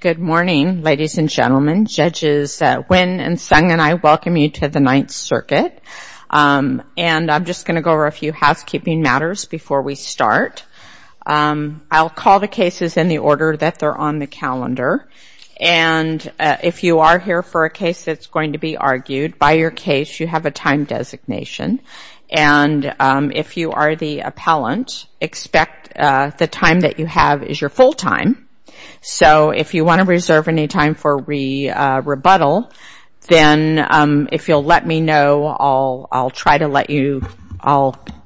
Good morning, ladies and gentlemen. Judges Nguyen and Sung and I welcome you to the Ninth Circuit. And I'm just going to go over a few housekeeping matters before we start. I'll call the cases in the order that they're on the calendar. And if you are here for a case that's going to be argued, by your case you have a time designation. And if you are the appellant, expect the time that you have is your full time. So if you want to reserve any time for rebuttal, then if you'll let me know, I'll try to let you.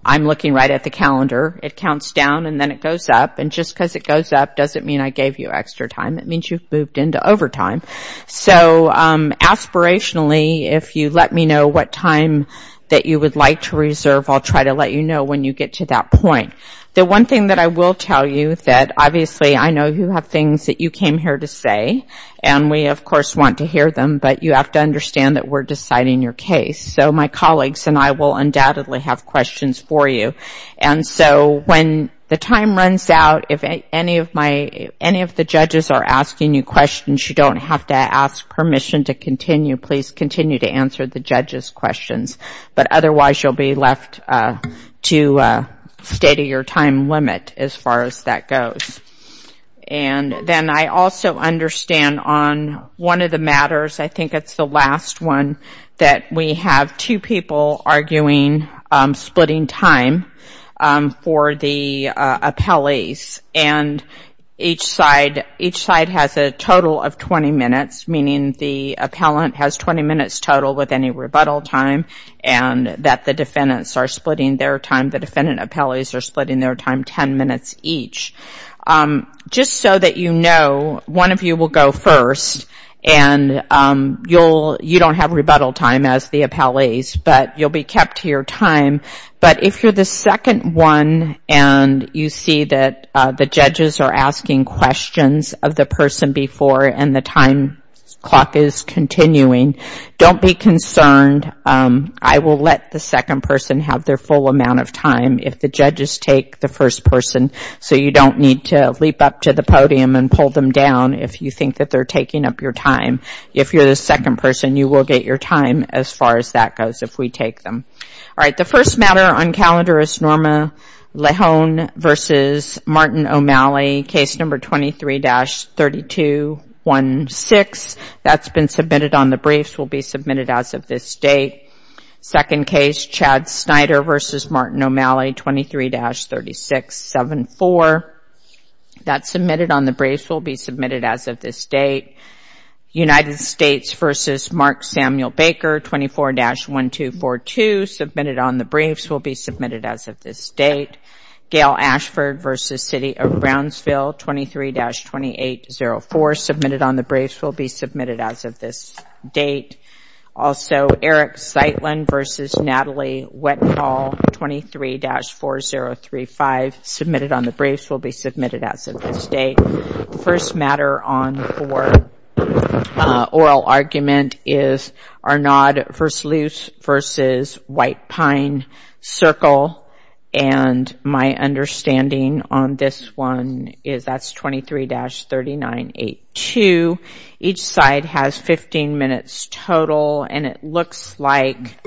I'm looking right at the calendar. It counts down and then it goes up. And just because it goes up doesn't mean I gave you extra time. It means you've moved into overtime. So aspirationally, if you let me know what time that you would like to reserve, I'll try to let you know when you get to that point. The one thing that I will tell you that obviously I know you have things that you came here to say, and we of course want to hear them, but you have to understand that we're deciding your case. So my colleagues and I will undoubtedly have questions for you. And so when the time runs out, if any of the judges are asking you questions, you don't have to ask permission to continue. Please continue to answer the judges' questions. But otherwise, you'll be left to a state of your time limit as far as that goes. And then I also understand on one of the matters, I think it's the last one, that we have two people arguing splitting time for the appellees. And each side has a total of 20 minutes, meaning the appellant has 20 minutes total with any rebuttal time, and that the defendants are splitting their time, the defendant appellees are splitting their time 10 minutes each. Just so that you know, one of you will go first, and you don't have rebuttal time as the appellees, but you'll be kept to your time. But if you're the second one, and you see that the judges are asking questions of the person before, and the time clock is continuing, don't be concerned. I will let the second person have their full amount of time. If the judges take the first person, so you don't need to leap up to the podium and pull them down if you think that they're taking up your time. If you're the second person, you will get your time as far as that goes if we take them. All right, the first matter on calendar is Norma Lahone v. Martin O'Malley, case number 23-3216. That's been submitted on the briefs, will be submitted as of this date. Second case, Chad Snyder v. Martin O'Malley, 23-3674. That's submitted on the briefs, will be submitted as of this date. United States v. Mark Samuel Baker, 24-1242, submitted on the briefs, will be submitted as of this date. Gail Ashford v. City of Brownsville, 23-2804, submitted on the briefs, will be submitted as of this date. Also, Eric Zeitlin v. Natalie Wettenhall, 23-4035, submitted on the briefs, will be submitted as of this date. The first matter on oral argument is Arnaud v. Luce v. White Pine Circle, and my understanding on this one is that's 23-3982. Each side has 15 minutes total, and it looks like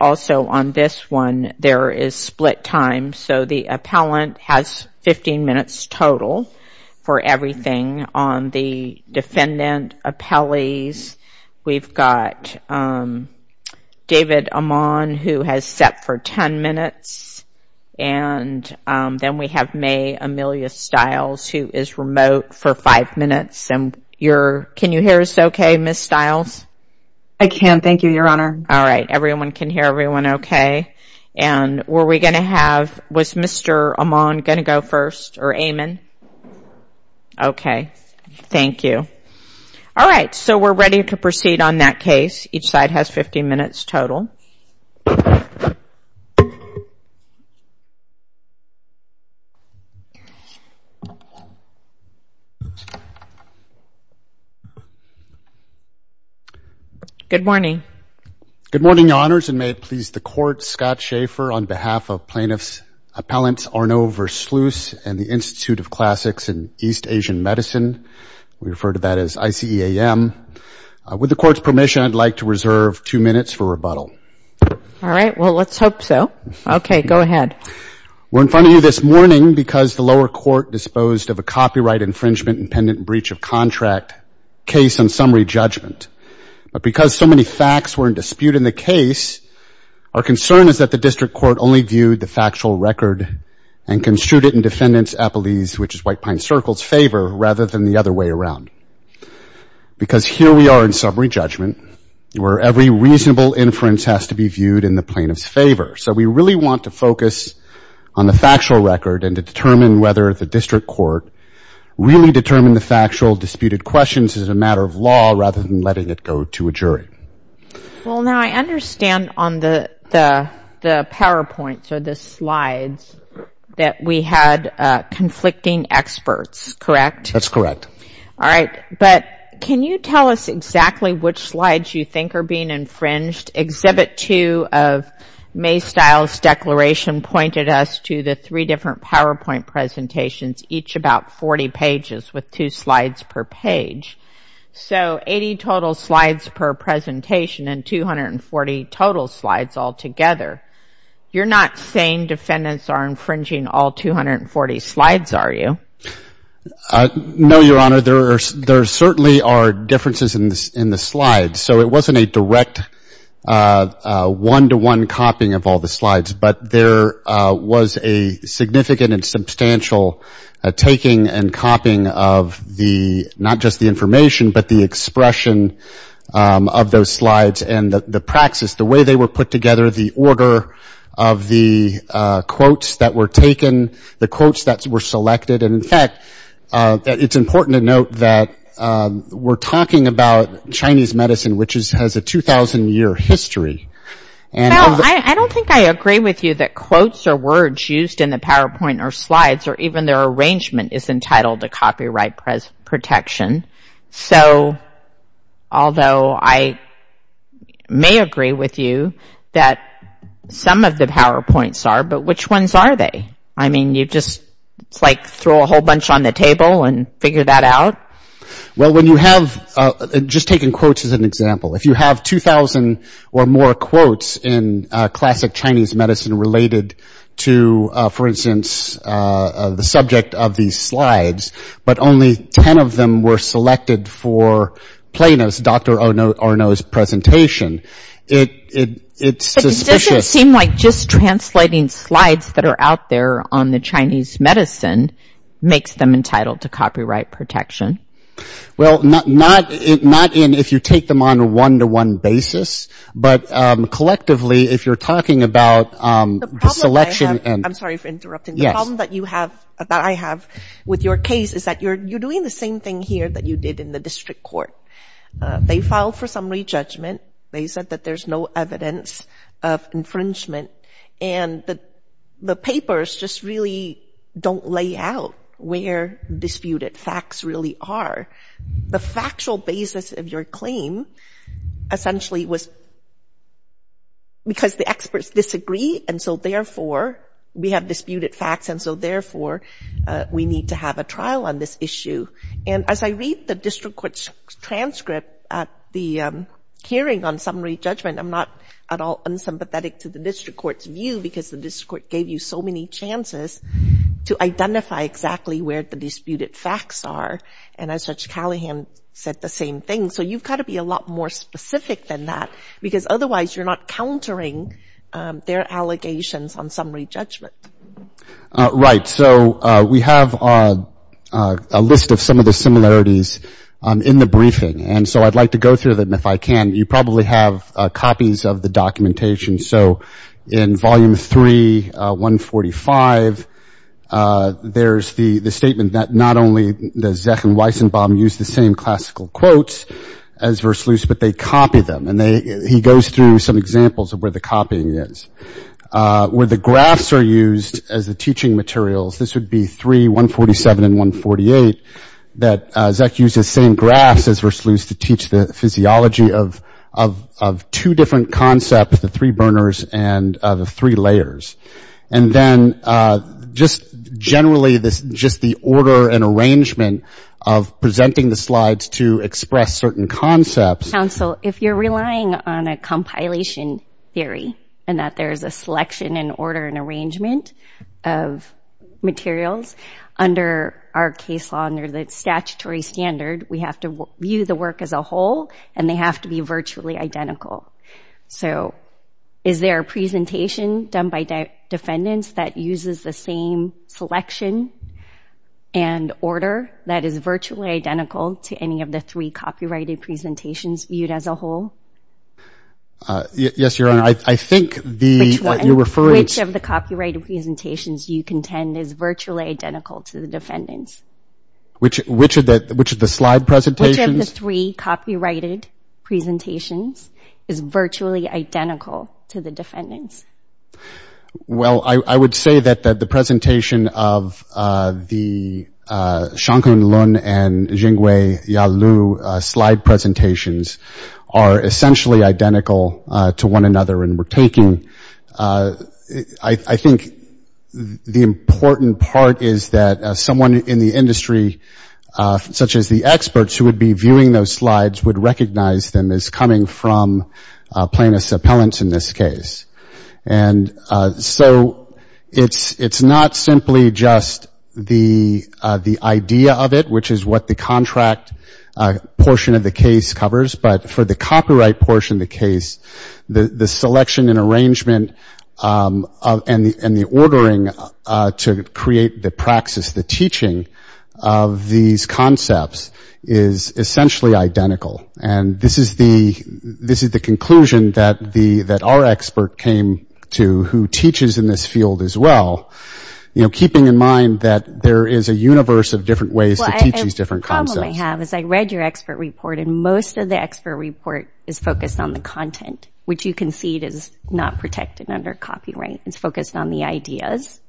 also on this one there is split time, so the appellant has 15 minutes total for everything. On the defendant appellees, we've got David Amon, who has set for 10 minutes, and then we have May Amelia Stiles, who is remote for 5 minutes. Can you hear us okay, Ms. Stiles? I can, thank you, Your Honor. All right, everyone can hear everyone okay. Were we going to have, was Mr. Amon going to go first, or Amon? Okay, thank you. All right, so we're ready to proceed on that case. Each side has 15 minutes total. Good morning. Good morning, Your Honors, and may it please the Court, Scott Schaefer on behalf of Plaintiff's Appellant Arnaud v. Luce and the Institute of Classics in East Asian Medicine. We refer to that as ICEAM. With the Court's permission, I'd like to reserve 2 minutes for rebuttal. All right, well, let's hope so. Okay, go ahead. We're in front of you this morning because the lower court disposed of a copyright infringement and pendant breach of contract case on summary judgment, but because so many facts were in dispute in the case, our concern is that the district court only viewed the factual record and construed it in defendant's appellees, which is White Pine Circle's favor, rather than the other way around. Because here we are in summary judgment, where every reasonable inference has to be viewed in the plaintiff's favor. So we really want to focus on the factual record and to determine whether the district court really determined the factual disputed questions as a matter of law rather than letting it go to a jury. Well, now, I understand on the PowerPoint, so the slides, that we had conflicting experts, correct? That's correct. All right, but can you tell us exactly which slides you think are being infringed? Exhibit 2 of Maystyle's declaration pointed us to the three different PowerPoint presentations, each about 40 pages with two slides per page. So 80 total slides per presentation and 240 total slides altogether. You're not saying defendants are infringing all 240 slides, are you? No, Your Honor. There certainly are differences in the slides. So it wasn't a direct one-to-one copying of all the slides, but there was a significant and substantial taking and copying of the, not just the information, but the expression of those slides and the praxis, the way they were put together, the order of the quotes that were taken, the quotes that were selected. And, in fact, it's important to note that we're talking about Chinese medicine, which has a 2,000-year history. Well, I don't think I agree with you that quotes or words used in the PowerPoint or slides or even their arrangement is entitled to copyright protection. So although I may agree with you that some of the PowerPoints are, but which ones are they? I mean, you just, like, throw a whole bunch on the table and figure that out? Well, when you have, just taking quotes as an example, if you have 2,000 or more quotes in classic Chinese medicine related to, for instance, the subject of these slides, but only 10 of them were selected for Plano's, Dr. Arnaud's presentation, it's suspicious. But it doesn't seem like just translating slides that are out there on the Chinese medicine makes them entitled to copyright protection. Well, not in if you take them on a one-to-one basis, but collectively if you're talking about the selection. I'm sorry for interrupting. The problem that you have, that I have with your case is that you're doing the same thing here that you did in the district court. They filed for summary judgment. They said that there's no evidence of infringement, and the papers just really don't lay out where disputed facts really are. The factual basis of your claim essentially was because the experts disagree, and so therefore we have disputed facts, and so therefore we need to have a trial on this issue. And as I read the district court's transcript at the hearing on summary judgment, I'm not at all unsympathetic to the district court's view because the district court gave you so many chances to identify exactly where the disputed facts are. And as Judge Callahan said, the same thing. So you've got to be a lot more specific than that, because otherwise you're not countering their allegations on summary judgment. Right. So we have a list of some of the similarities in the briefing, and so I'd like to go through them if I can. You probably have copies of the documentation. So in Volume 3, 145, there's the statement that not only does Zech and Weissenbaum use the same classical quotes as Versluis, but they copy them. And he goes through some examples of where the copying is. Where the graphs are used as the teaching materials, this would be 3, 147, and 148, that Zech used the same graphs as Versluis to teach the physiology of two different concepts, the three burners and the three layers. And then just generally just the order and arrangement of presenting the slides to express certain concepts. Counsel, if you're relying on a compilation theory, and that there's a selection and order and arrangement of materials, under our case law, under the statutory standard, we have to view the work as a whole, and they have to be virtually identical. So is there a presentation done by defendants that uses the same selection and order that is virtually identical to any of the three copyrighted presentations viewed as a whole? Yes, Your Honor. I think the – Which one? You're referring to – Which of the copyrighted presentations you contend is virtually identical to the defendants? Which of the slide presentations? Which of the three copyrighted presentations is virtually identical to the defendants? Well, I would say that the presentation of the Shonkun Lun and Jingwei Yalu slide presentations are essentially identical to one another. And we're taking – I think the important part is that someone in the industry, such as the experts who would be viewing those slides, would recognize them as coming from plaintiffs' appellants in this case. And so it's not simply just the idea of it, which is what the contract portion of the case covers, but for the copyright portion of the case, the selection and arrangement and the ordering to create the praxis, the teaching of these concepts is essentially identical. And this is the conclusion that our expert came to, who teaches in this field as well, keeping in mind that there is a universe of different ways to teach these different concepts. Well, a problem I have is I read your expert report, and most of the expert report is focused on the content, which you concede is not protected under copyright. It's focused on the ideas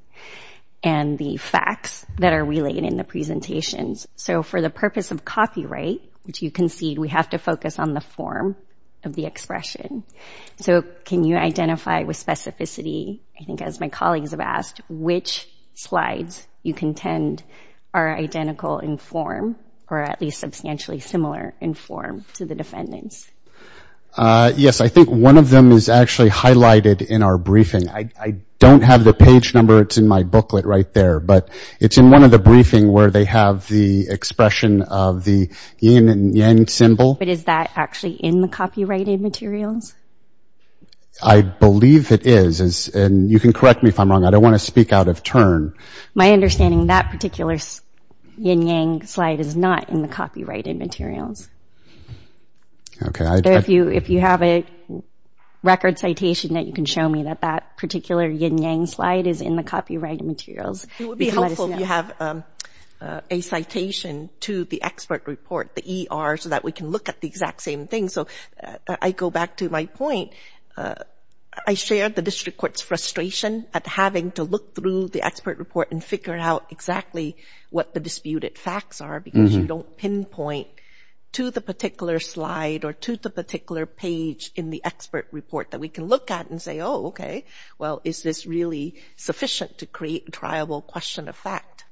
and the facts that are related in the presentations. So for the purpose of copyright, which you concede, we have to focus on the form of the expression. So can you identify with specificity, I think as my colleagues have asked, which slides you contend are identical in form, or at least substantially similar in form to the defendant's? Yes, I think one of them is actually highlighted in our briefing. I don't have the page number. It's in my booklet right there, but it's in one of the briefings where they have the expression of the yin and yang symbol. But is that actually in the copyrighted materials? I believe it is, and you can correct me if I'm wrong. I don't want to speak out of turn. My understanding, that particular yin-yang slide is not in the copyrighted materials. If you have a record citation that you can show me that that particular yin-yang slide is in the copyrighted materials, let us know. It would be helpful if you have a citation to the expert report, the ER, so that we can look at the exact same thing. So I go back to my point. I share the district court's frustration at having to look through the expert report and figure out exactly what the disputed facts are, because you don't pinpoint to the particular slide or to the particular page in the expert report that we can look at and say, oh, okay, well, is this really sufficient to create a triable question of fact?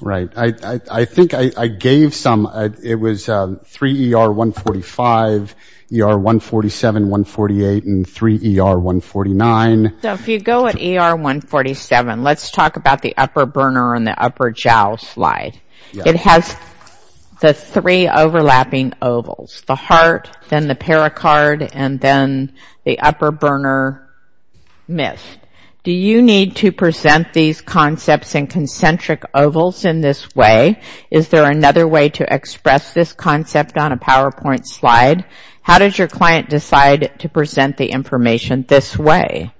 Right. I think I gave some. It was 3ER145, ER147, 148, and 3ER149. So if you go at ER147, let's talk about the upper burner on the upper jowl slide. It has the three overlapping ovals, the heart, then the pericard, and then the upper burner mist. Do you need to present these concepts in concentric ovals in this way? Is there another way to express this concept on a PowerPoint slide? How does your client decide to present the information this way?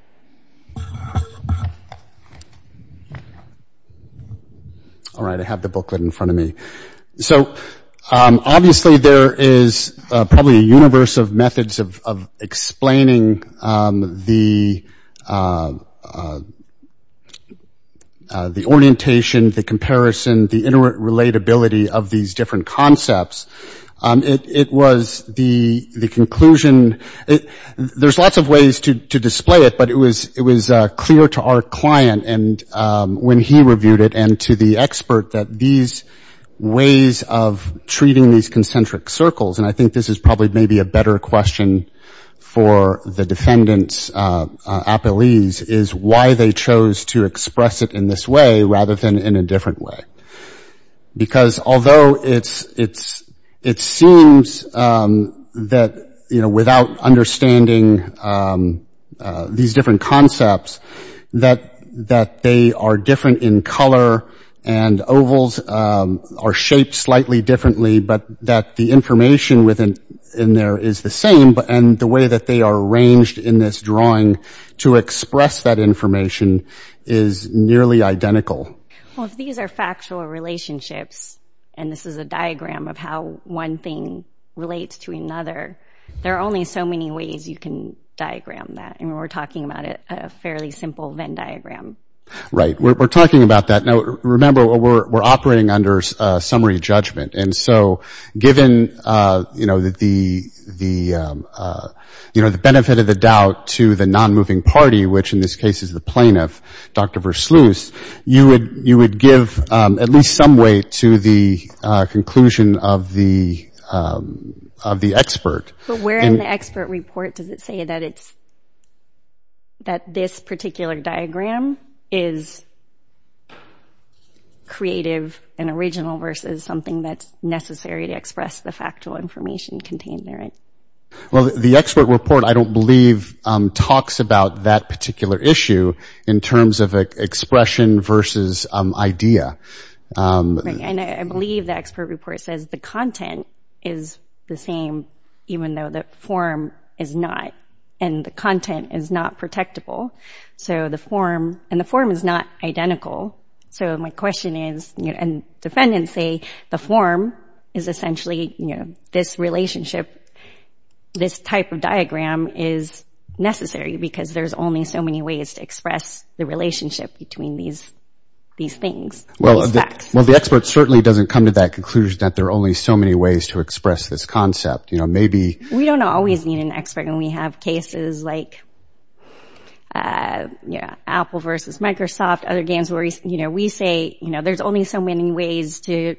All right. I have the booklet in front of me. So obviously there is probably a universe of methods of explaining the orientation, the comparison, the interrelatability of these different concepts. It was the conclusion. There's lots of ways to display it, but it was clear to our client when he reviewed it and to the expert that these ways of treating these concentric circles, and I think this is probably maybe a better question for the defendant's appellees, is why they chose to express it in this way rather than in a different way. Because although it seems that without understanding these different concepts, that they are different in color and ovals are shaped slightly differently, but that the information in there is the same, and the way that they are arranged in this drawing to express that information is nearly identical. Well, if these are factual relationships, and this is a diagram of how one thing relates to another, there are only so many ways you can diagram that. And we're talking about a fairly simple Venn diagram. Right. We're talking about that. Now, remember, we're operating under summary judgment. And so given the benefit of the doubt to the non-moving party, which in this case is the plaintiff, Dr. Versluis, you would give at least some weight to the conclusion of the expert. But where in the expert report does it say that this particular diagram is creative and original versus something that's necessary to express the factual information contained therein? Well, the expert report, I don't believe, talks about that particular issue in terms of expression versus idea. Right. And I believe the expert report says the content is the same even though the form is not, and the content is not protectable. So the form, and the form is not identical. So my question is, and defendants say the form is essentially this relationship, this type of diagram is necessary because there's only so many ways to express the relationship between these things, these facts. Well, the expert certainly doesn't come to that conclusion that there are only so many ways to express this concept. We don't always need an expert. And we have cases like Apple versus Microsoft, other games where we say there's only so many ways to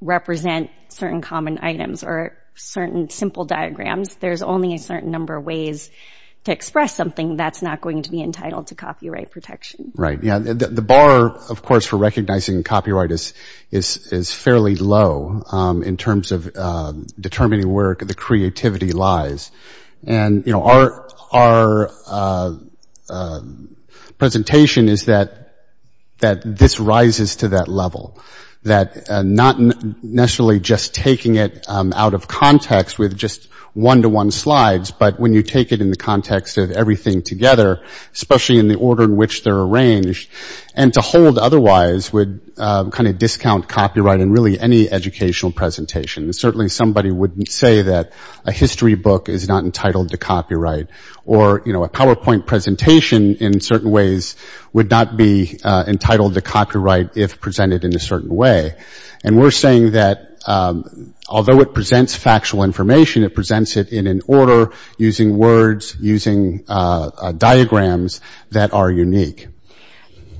represent certain common items or certain simple diagrams. There's only a certain number of ways to express something that's not going to be entitled to copyright protection. Right. The bar, of course, for recognizing copyright is fairly low in terms of determining where the creativity lies. And our presentation is that this rises to that level, that not necessarily just taking it out of context with just one-to-one slides, but when you take it in the context of everything together, especially in the order in which they're arranged, and to hold otherwise would kind of discount copyright in really any educational presentation. Certainly somebody wouldn't say that a history book is not entitled to copyright or a PowerPoint presentation in certain ways would not be entitled to copyright if presented in a certain way. And we're saying that although it presents factual information, it presents it in an order using words, using diagrams that are unique.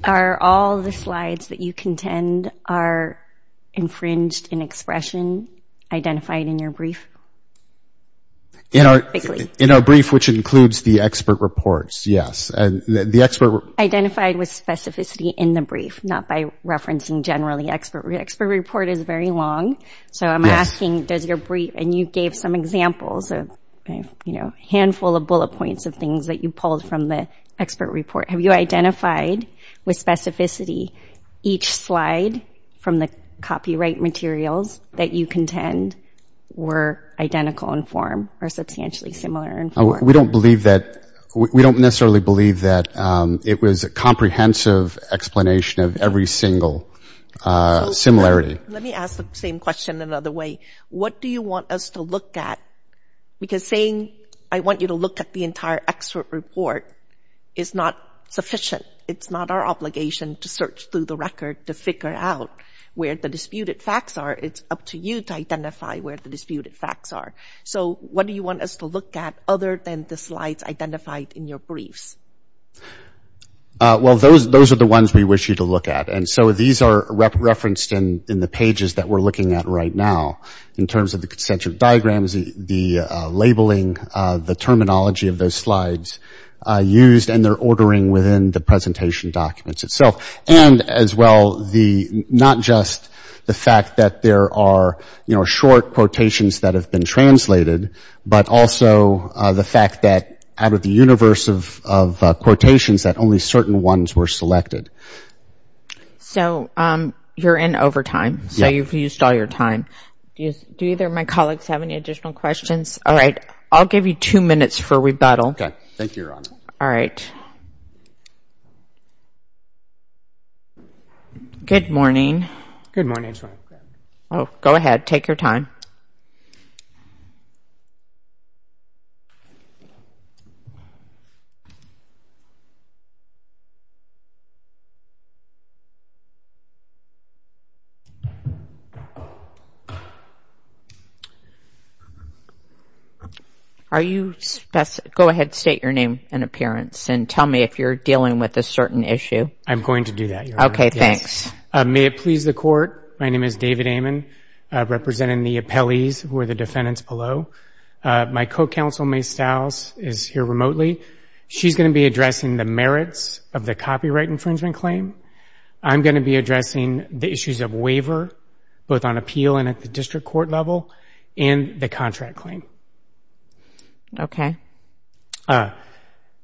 Are all the slides that you contend are infringed in expression identified in your brief? In our brief, which includes the expert reports, yes. Identified with specificity in the brief, not by referencing generally. The expert report is very long, so I'm asking, does your brief – and you gave some examples of a handful of bullet points of things that you pulled from the expert report. Have you identified with specificity each slide from the copyright materials that you contend were identical in form or substantially similar in form? We don't believe that – we don't necessarily believe that it was a comprehensive explanation of every single similarity. Let me ask the same question another way. What do you want us to look at? Because saying I want you to look at the entire expert report is not sufficient. It's not our obligation to search through the record to figure out where the disputed facts are. It's up to you to identify where the disputed facts are. So what do you want us to look at other than the slides identified in your briefs? Well, those are the ones we wish you to look at. And so these are referenced in the pages that we're looking at right now in terms of the concentric diagrams, the labeling, the terminology of those slides used, and they're ordering within the presentation documents itself. And as well, the – not just the fact that there are, you know, short quotations that have been translated, but also the fact that out of the universe of quotations that only certain ones were selected. So you're in overtime. Yeah. Yeah, you've used all your time. Do either of my colleagues have any additional questions? All right. I'll give you two minutes for rebuttal. Okay. Thank you, Your Honor. All right. Good morning. Good morning. Go ahead. Take your time. Are you – go ahead, state your name and appearance and tell me if you're dealing with a certain issue. I'm going to do that, Your Honor. Okay. Thanks. May it please the Court, my name is David Amon, representing the appellees who are the defendants below. My co-counsel, May Staus, is here remotely. She's going to be addressing the merits of the copyright infringement claim. I'm going to be addressing the issues of waiver, both on appeal and at the district court level, and the contract claim. Okay.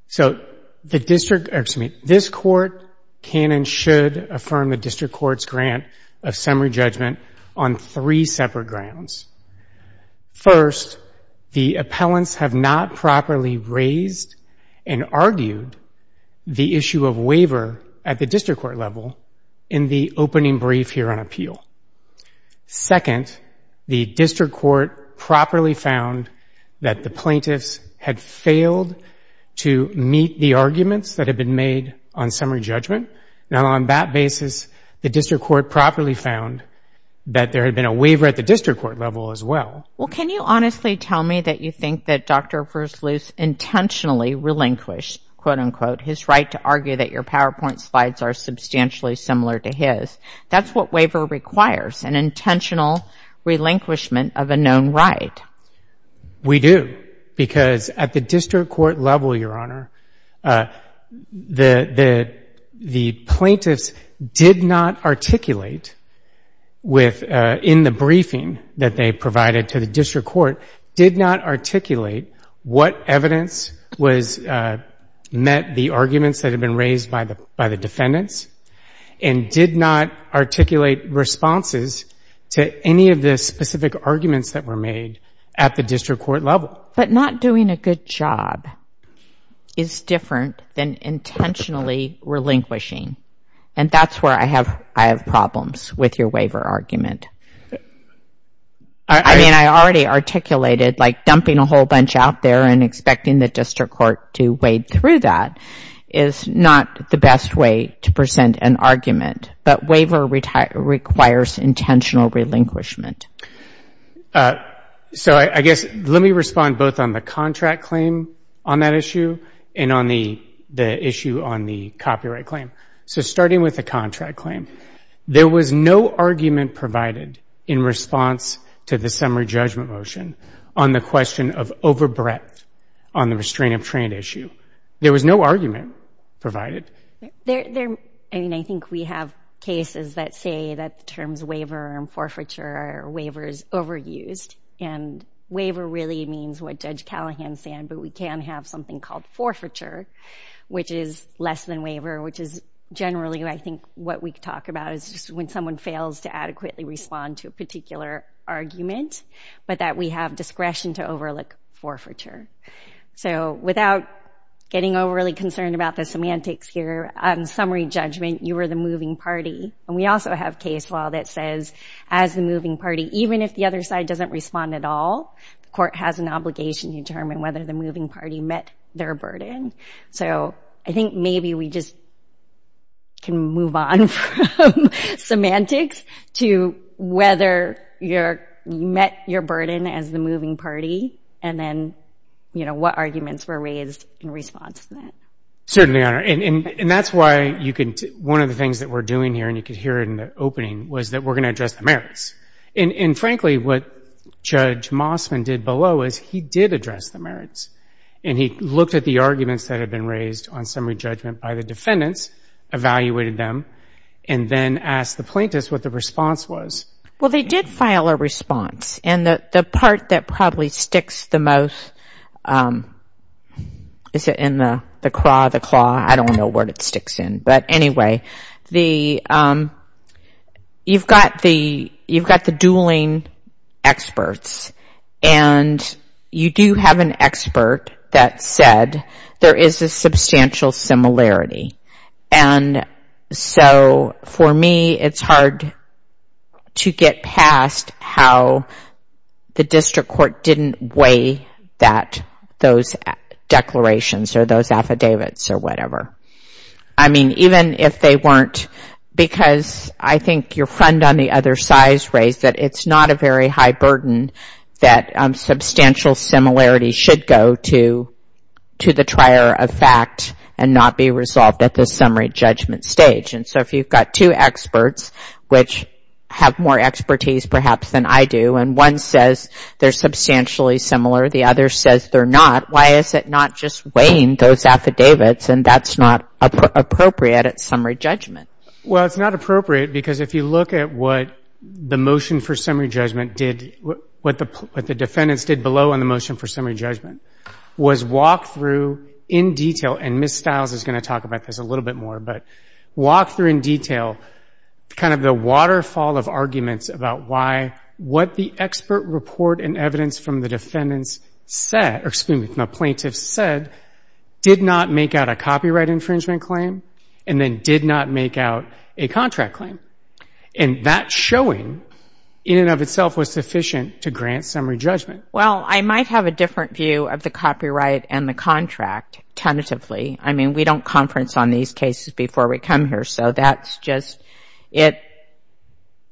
So the district – excuse me. This Court can and should affirm the district court's grant of summary judgment on three separate grounds. First, the appellants have not properly raised and argued the issue of waiver at the district court level in the opening brief here on appeal. Second, the district court properly found that the plaintiffs had failed to meet the arguments that had been made on summary judgment. Now, on that basis, the district court properly found that there had been a waiver at the district court level as well. Well, can you honestly tell me that you think that Dr. Versluis intentionally relinquished, quote-unquote, his right to argue that your PowerPoint slides are substantially similar to his? That's what waiver requires, an intentional relinquishment of a known right. We do, because at the district court level, Your Honor, the plaintiffs did not articulate in the briefing that they provided to the district court, did not articulate what evidence met the arguments that had been raised by the defendants, and did not articulate responses to any of the specific arguments that were made at the district court level. But not doing a good job is different than intentionally relinquishing, and that's where I have problems with your waiver argument. I mean, I already articulated, like, dumping a whole bunch out there and expecting the district court to wade through that is not the best way to present an argument, but waiver requires intentional relinquishment. So I guess, let me respond both on the contract claim on that issue and on the issue on the copyright claim. So starting with the contract claim, there was no argument provided in response to the summary judgment motion on the question of overbreadth on the restraint of trade issue. There was no argument provided. I mean, I think we have cases that say that the terms waiver and forfeiture are waivers overused, and waiver really means what Judge Callahan said, but we can have something called forfeiture, which is less than waiver, which is generally, I think, what we talk about is when someone fails to adequately respond to a particular argument, but that we have discretion to overlook forfeiture. So without getting overly concerned about the semantics here, on summary judgment, you were the moving party, and we also have case law that says, as the moving party, even if the other side doesn't respond at all, the court has an obligation to determine whether the moving party met their burden. So I think maybe we just can move on from semantics to whether you met your burden as the moving party and then what arguments were raised in response to that. Certainly, Your Honor. And that's why one of the things that we're doing here, and you could hear it in the opening, was that we're going to address the merits. And frankly, what Judge Mossman did below is he did address the merits, and he looked at the arguments that had been raised on summary judgment by the defendants, evaluated them, and then asked the plaintiffs what the response was. Well, they did file a response, and the part that probably sticks the most is in the craw, the claw. I don't know what it sticks in. But anyway, you've got the dueling experts, and you do have an expert that said there is a substantial similarity. And so for me, it's hard to get past how the district court didn't weigh that, those declarations or those affidavits or whatever. I mean, even if they weren't, because I think your friend on the other side has raised that it's not a very high burden that substantial similarity should go to the trier of fact and not be resolved at the summary judgment stage. And so if you've got two experts, which have more expertise perhaps than I do, and one says they're substantially similar, the other says they're not, why is it not just weighing those affidavits and that's not appropriate at summary judgment? Well, it's not appropriate, because if you look at what the motion for summary judgment did, what the defendants did below on the motion for summary judgment was walk through in detail, and Ms. Stiles is going to talk about this a little bit more, but walk through in detail kind of the waterfall of arguments about why what the expert report and evidence from the defendants said, or excuse me, from the plaintiffs said, did not make out a copyright infringement claim and then did not make out a contract claim. And that showing in and of itself was sufficient to grant summary judgment. Well, I might have a different view of the copyright and the contract tentatively. I mean, we don't conference on these cases before we come here, so that's just, it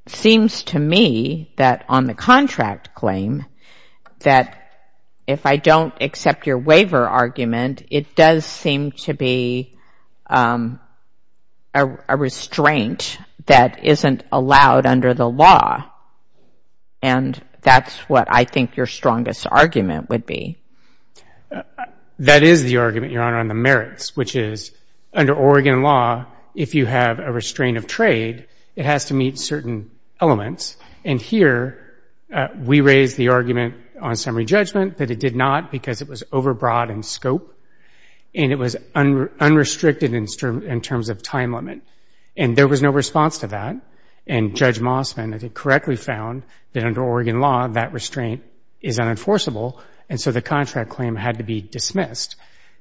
seems to me that on the contract claim that if I don't accept your waiver argument, it does seem to be a restraint that isn't allowed under the law, and that's what I think your strongest argument would be. That is the argument, Your Honor, on the merits, which is under Oregon law, if you have a restraint of trade, it has to meet certain elements, and here we raise the argument on summary judgment that it did not because it was overbroad in scope and it was unrestricted in terms of time limit, and there was no response to that, and Judge Mossman, I think, correctly found that under Oregon law, that restraint is unenforceable, and so the contract claim had to be dismissed.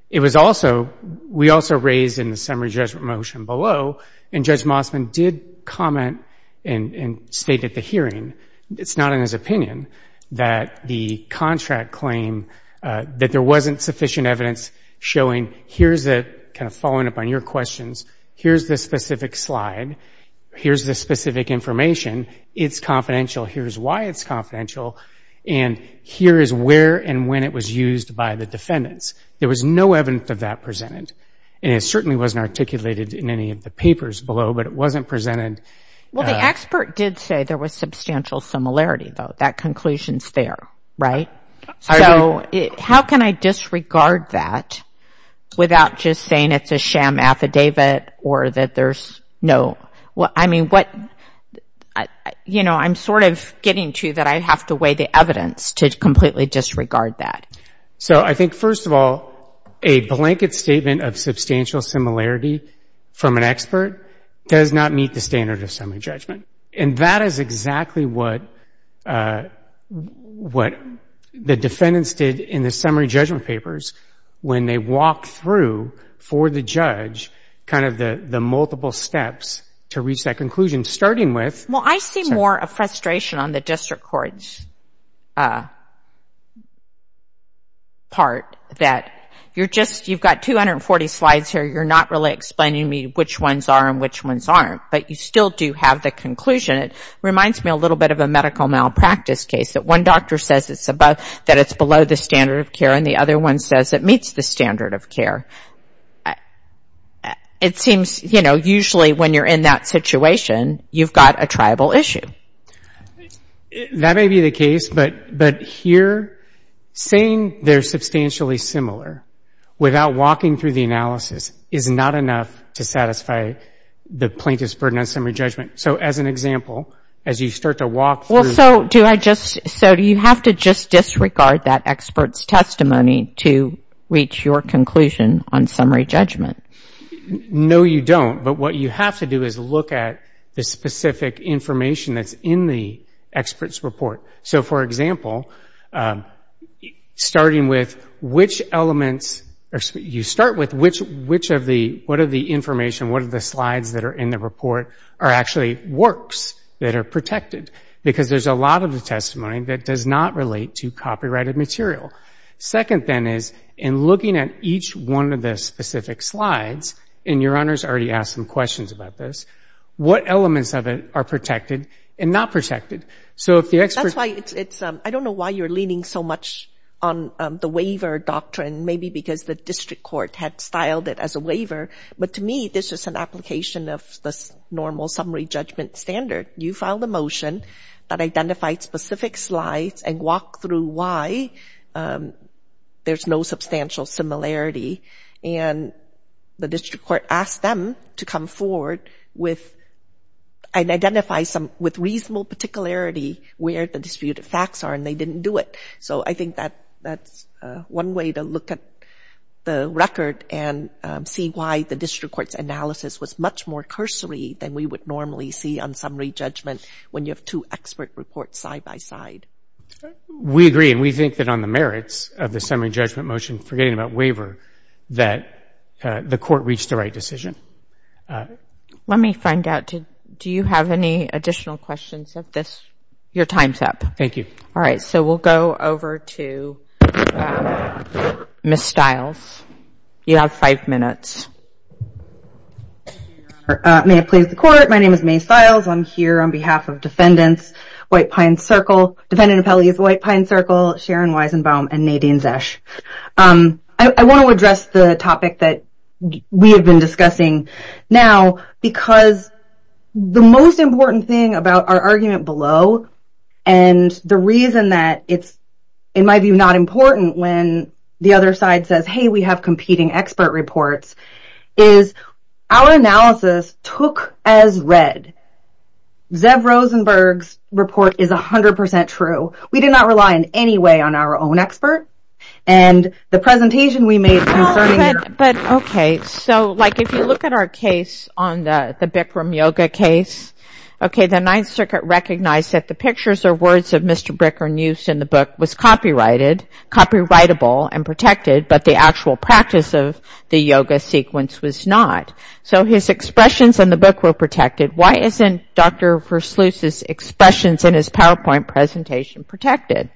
It was also, we also raised in the summary judgment motion below, and Judge Mossman did comment and state at the hearing, it's not in his opinion, that the contract claim, that there wasn't sufficient evidence showing here's the, kind of following up on your questions, here's the specific slide, here's the specific information, it's confidential, here's why it's confidential, and here is where and when it was used by the defendants. There was no evidence of that presented, and it certainly wasn't articulated in any of the papers below, but it wasn't presented. Well, the expert did say there was substantial similarity, though. That conclusion's there, right? I agree. So how can I disregard that without just saying it's a sham affidavit or that there's no, I mean, what, you know, I'm sort of getting to that I have to weigh the evidence to completely disregard that. So I think, first of all, a blanket statement of substantial similarity from an expert does not meet the standard of summary judgment, and that is exactly what the defendants did in the summary judgment papers when they walked through for the judge kind of the multiple steps to reach that conclusion, starting with... Well, I see more of frustration on the district court's part that you're just, you've got 240 slides here, you're not really explaining to me which ones are and which ones aren't, but you still do have the conclusion. It reminds me a little bit of a medical malpractice case that one doctor says it's below the standard of care and the other one says it meets the standard of care. It seems, you know, usually when you're in that situation, you've got a tribal issue. That may be the case, but here saying they're substantially similar without walking through the analysis is not enough to satisfy the plaintiff's burden on summary judgment. So as an example, as you start to walk through... Well, so do I just, so do you have to just disregard that expert's testimony to reach your conclusion on summary judgment? No, you don't, but what you have to do is look at the specific information that's in the expert's report. So, for example, starting with which elements, you start with which of the, what of the information, what of the slides that are in the report are actually works that are protected because there's a lot of the testimony that does not relate to copyrighted material. Second, then, is in looking at each one of the specific slides, and your honors already asked some questions about this, what elements of it are protected and not protected? So if the expert... That's why it's, I don't know why you're leaning so much on the waiver doctrine, maybe because the district court had styled it as a waiver, but to me this is an application of the normal summary judgment standard. You filed a motion that identified specific slides and walked through why there's no substantial similarity, and the district court asked them to come forward and identify with reasonable particularity where the disputed facts are, and they didn't do it. So I think that's one way to look at the record and see why the district court's analysis was much more cursory than we would normally see on summary judgment when you have two expert reports side by side. We agree, and we think that on the merits of the summary judgment motion, forgetting about waiver, that the court reached the right decision. Let me find out, do you have any additional questions of this? Your time's up. Thank you. All right, so we'll go over to Ms. Stiles. You have five minutes. May it please the court. My name is May Stiles. I'm here on behalf of Defendants White Pine Circle, Defendant Appellees White Pine Circle, Sharon Weisenbaum, and Nadine Zesch. I want to address the topic that we have been discussing now because the most important thing about our argument below and the reason that it's, in my view, not important when the other side says, hey, we have competing expert reports, is our analysis took as read. Zev Rosenberg's report is 100% true. We did not rely in any way on our own expert, and the presentation we made concerning it. But, okay, so, like, if you look at our case, on the Bikram Yoga case, okay, the Ninth Circuit recognized that the pictures or words of Mr. Bricker News in the book was copyrighted, copyrightable and protected, but the actual practice of the yoga sequence was not. So, his expressions in the book were protected. Why isn't Dr. Versluis's expressions in his PowerPoint presentation protected?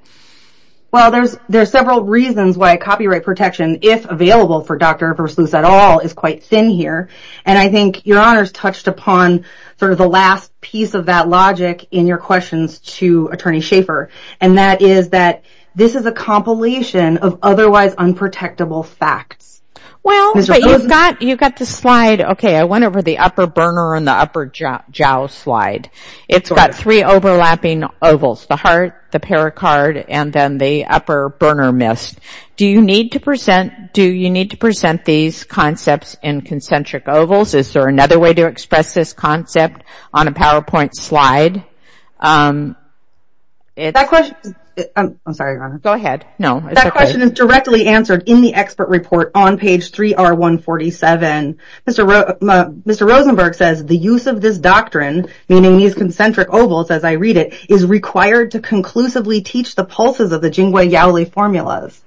Well, there's several reasons why copyright protection, if available for Dr. Versluis at all, is quite thin here, and I think Your Honor's touched upon sort of the last piece of that logic in your questions to Attorney Schaffer, and that is that this is a compilation of otherwise unprotectable facts. Well, but you've got the slide, okay, I went over the upper burner and the upper jowl slide. It's got three overlapping ovals, the heart, the pericard, and then the upper burner mist. Do you need to present these concepts in concentric ovals? Is there another way to express this concept on a PowerPoint slide? I'm sorry, Your Honor. Go ahead. No, it's okay. That question is directly answered in the expert report on page 3R147. Mr. Rosenberg says, the use of this doctrine, meaning these concentric ovals as I read it, is required to conclusively teach the pulses of the Jingui Yaoli formulas,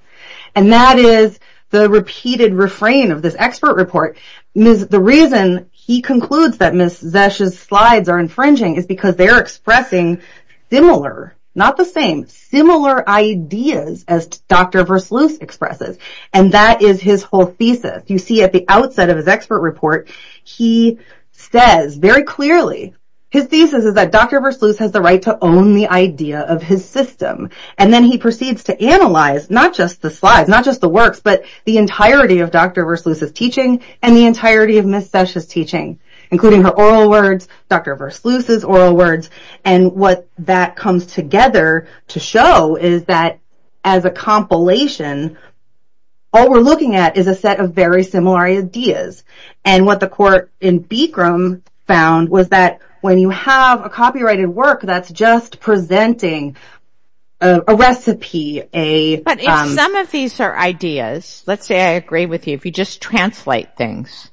and that is the repeated refrain of this expert report. The reason he concludes that Ms. Zesch's slides are infringing is because they're expressing similar, not the same, similar ideas as Dr. Versluis expresses, and that is his whole thesis. You see at the outset of his expert report, he says very clearly, his thesis is that Dr. Versluis has the right to own the idea of his system, and then he proceeds to analyze not just the slides, not just the works, but the entirety of Dr. Versluis's teaching and the entirety of Ms. Zesch's teaching, including her oral words, Dr. Versluis's oral words, and what that comes together to show is that as a compilation, all we're looking at is a set of very similar ideas, and what the court in Bikram found was that when you have a copyrighted work that's just presenting a recipe, a... But if some of these are ideas, let's say I agree with you, if you just translate things,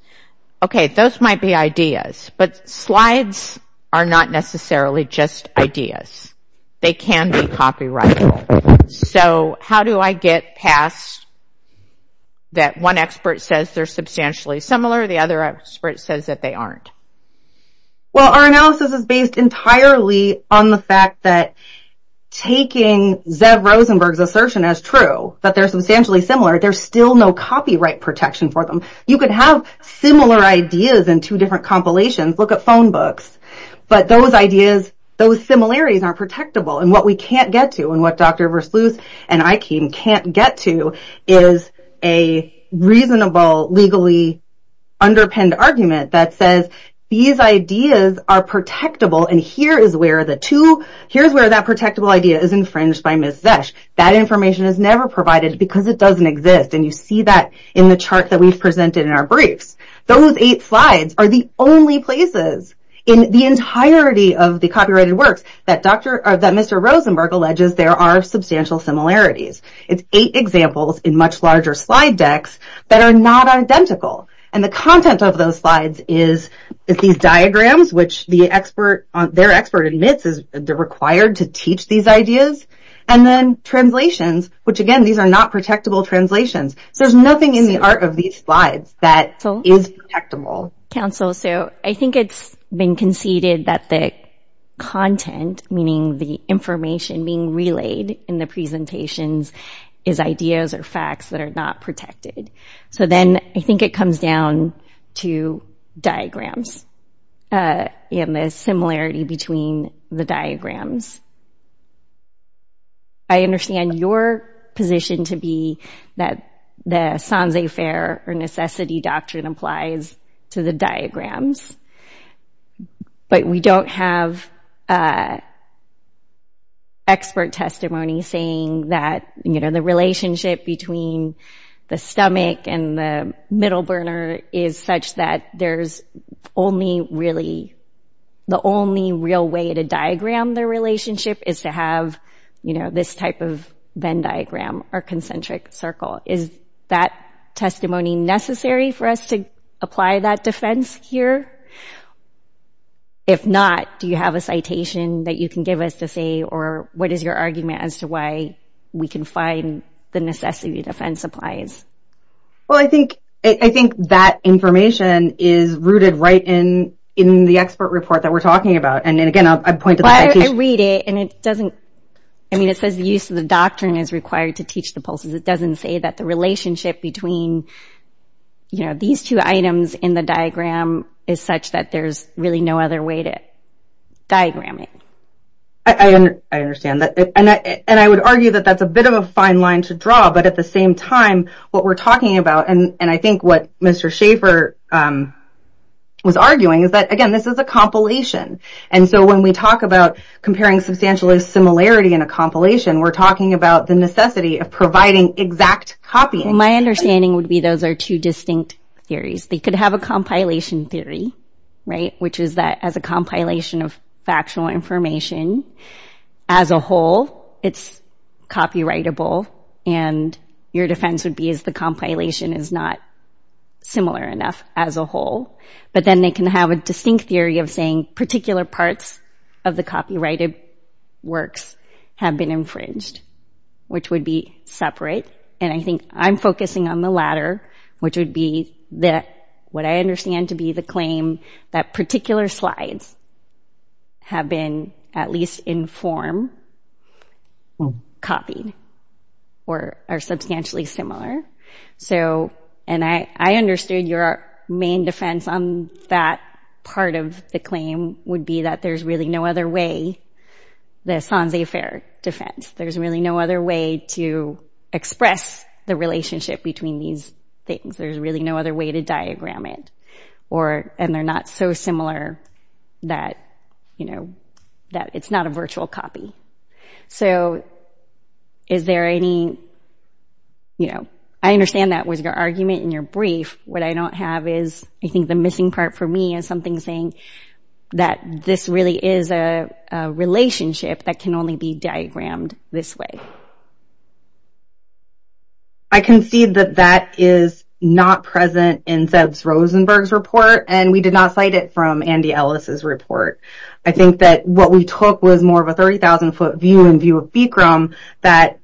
okay, those might be ideas, but slides are not necessarily just ideas. They can be copyrighted. So how do I get past that one expert says they're substantially similar, the other expert says that they aren't? Well, our analysis is based entirely on the fact that taking Zev Rosenberg's assertion as true, that they're substantially similar, there's still no copyright protection for them. You could have similar ideas in two different compilations. Look at phone books. But those ideas, those similarities aren't protectable, and what we can't get to and what Dr. Versluis and I can't get to is a reasonable, legally underpinned argument that says these ideas are protectable, and here is where the two... Here's where that protectable idea is infringed by Ms. Zesch. That information is never provided because it doesn't exist, and you see that in the chart that we've presented in our briefs. Those eight slides are the only places in the entirety of the copyrighted works that Mr. Rosenberg alleges there are substantial similarities. It's eight examples in much larger slide decks that are not identical, and the content of those slides is these diagrams, which their expert admits they're required to teach these ideas, and then translations, which again, these are not protectable translations. There's nothing in the art of these slides that is protectable. Counsel, so I think it's been conceded that the content, meaning the information being relayed in the presentations, is ideas or facts that are not protected. So then I think it comes down to diagrams and the similarity between the diagrams. I understand your position to be that the sanse faire or necessity doctrine applies to the diagrams, but we don't have expert testimony saying that the relationship between the stomach and the middle burner is such that there's only really, the only real way to diagram the relationship is to have this type of Venn diagram or concentric circle. Is that testimony necessary for us to apply that defense here? If not, do you have a citation that you can give us to say, or what is your argument as to why we can find the necessity defense applies? Well, I think that information is rooted right in the expert report that we're talking about. And again, I point to the citation. I read it, and it doesn't, I mean, it says the use of the doctrine is required to teach the pulses. It doesn't say that the relationship between these two items in the diagram is such that there's really no other way to diagram it. I understand that. And I would argue that that's a bit of a fine line to draw, but at the same time, what we're talking about, and I think what Mr. Schaefer was arguing, is that, again, this is a compilation. And so when we talk about comparing substantialist similarity in a compilation, we're talking about the necessity of providing exact copying. My understanding would be those are two distinct theories. They could have a compilation theory, right, which is that as a compilation of factual information, as a whole, it's copyrightable, and your defense would be is the compilation is not similar enough as a whole. But then they can have a distinct theory of saying particular parts of the copyrighted works have been infringed, which would be separate. And I think I'm focusing on the latter, which would be what I understand to be the claim that particular slides have been, at least in form, copied. Or are substantially similar. So, and I understood your main defense on that part of the claim would be that there's really no other way, the Sanse Affair defense, there's really no other way to express the relationship between these things. There's really no other way to diagram it. And they're not so similar that, you know, that it's not a virtual copy. So, is there any, you know, I understand that was your argument in your brief. What I don't have is, I think the missing part for me is something saying that this really is a relationship that can only be diagrammed this way. I concede that that is not present in Zeb Rosenberg's report, and we did not cite it from Andy Ellis's report. I think that what we took was more of a 30,000-foot view in view of Bikram that,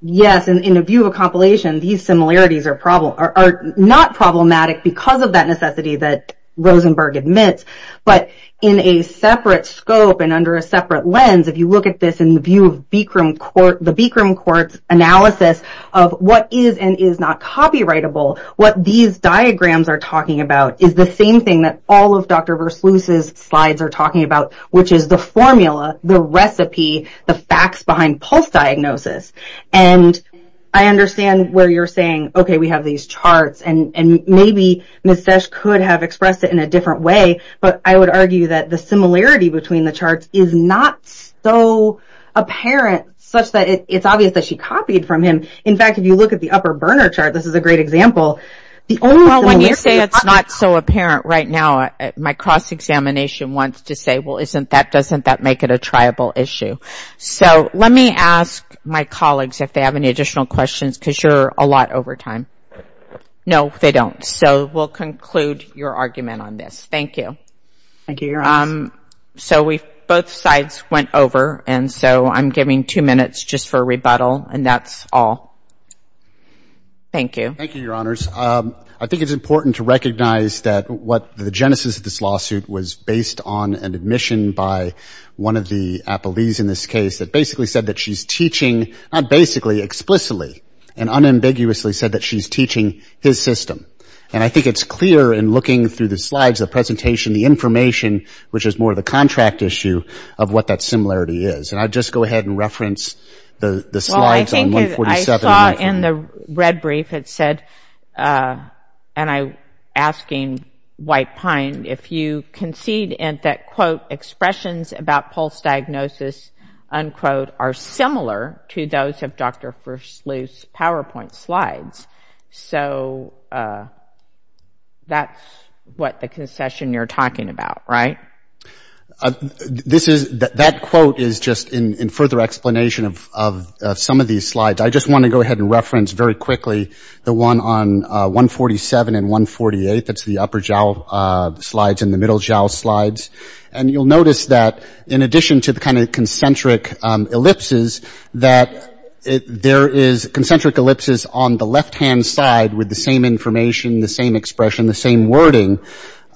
yes, in a view of a compilation, these similarities are not problematic because of that necessity that Rosenberg admits, but in a separate scope and under a separate lens, if you look at this in the view of the Bikram court's analysis of what is and is not copyrightable, what these diagrams are talking about is the same thing that all of Dr. Versluis's slides are talking about, which is the formula, the recipe, the facts behind pulse diagnosis. And I understand where you're saying, okay, we have these charts, and maybe Ms. Sesh could have expressed it in a different way, but I would argue that the similarity between the charts is not so apparent, such that it's obvious that she copied from him. In fact, if you look at the upper burner chart, this is a great example. Well, when you say it's not so apparent right now, my cross-examination wants to say, well, isn't that, doesn't that make it a triable issue? So let me ask my colleagues if they have any additional questions because you're a lot over time. No, they don't. So we'll conclude your argument on this. Thank you. So both sides went over, and so I'm giving two minutes just for a rebuttal, and that's all. Thank you. Thank you, Your Honors. I think it's important to recognize that what the genesis of this lawsuit was based on an admission by one of the appellees in this case that basically said that she's teaching, not basically, explicitly and unambiguously said that she's teaching his system. And I think it's clear in looking through the slides, the presentation, the information, which is more the contract issue of what that similarity is. And I'll just go ahead and reference the slides on 147. You saw in the red brief it said, and I'm asking White Pine, if you concede that, quote, expressions about Pulse diagnosis, unquote, are similar to those of Dr. Versluis' PowerPoint slides. So that's what the concession you're talking about, right? That quote is just in further explanation of some of these slides. I just want to go ahead and reference very quickly the one on 147 and 148. That's the upper jowl slides and the middle jowl slides. And you'll notice that in addition to the kind of concentric ellipses, that there is concentric ellipses on the left-hand side with the same information, the same expression, the same wording.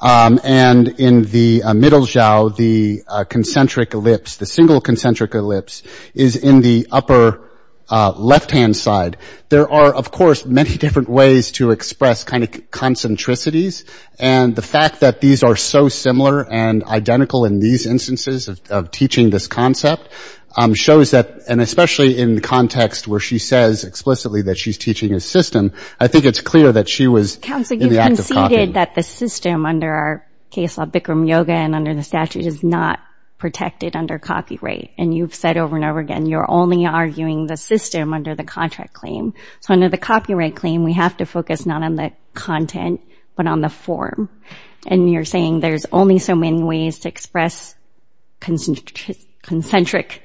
And in the middle jowl, the concentric ellipse, the single concentric ellipse is in the upper left-hand side. There are, of course, many different ways to express kind of concentricities. And the fact that these are so similar and identical in these instances of teaching this concept shows that, and especially in the context where she says explicitly that she's teaching a system, I think it's clear that she was in the act of copying. You said that the system under our case law, Bikram Yoga, and under the statute is not protected under copyright. And you've said over and over again you're only arguing the system under the contract claim. So under the copyright claim, we have to focus not on the content but on the form. And you're saying there's only so many ways to express concentric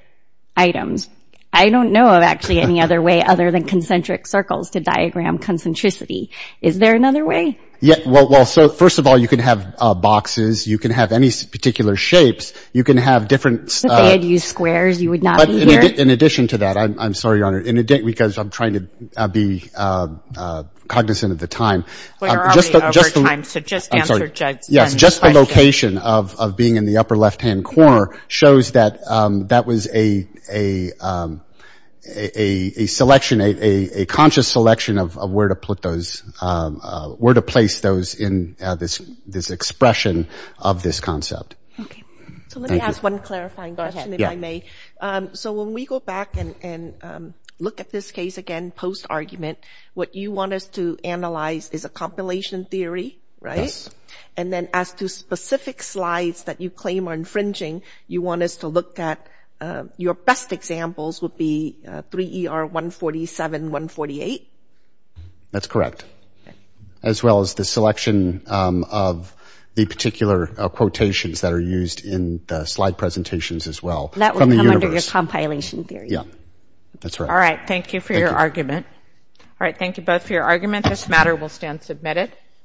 items. I don't know of actually any other way other than concentric circles to diagram concentricity. Is there another way? Well, first of all, you can have boxes. You can have any particular shapes. You can have different- If they had used squares, you would not be here? In addition to that, I'm sorry, Your Honor, because I'm trying to be cognizant of the time. We're already over time, so just answer Judd's question. Yes, just the location of being in the upper left-hand corner shows that that was a selection, a conscious selection of where to put those, where to place those in this expression of this concept. Okay. So let me ask one clarifying question, if I may. So when we go back and look at this case again post-argument, what you want us to analyze is a compilation theory, right? Yes. And then as to specific slides that you claim are infringing, you want us to look at your best examples would be 3ER147, 148? That's correct, as well as the selection of the particular quotations that are used in the slide presentations as well. That would come under your compilation theory. Yeah, that's right. All right. Thank you for your argument. All right. Thank you both for your argument. This matter will stand submitted.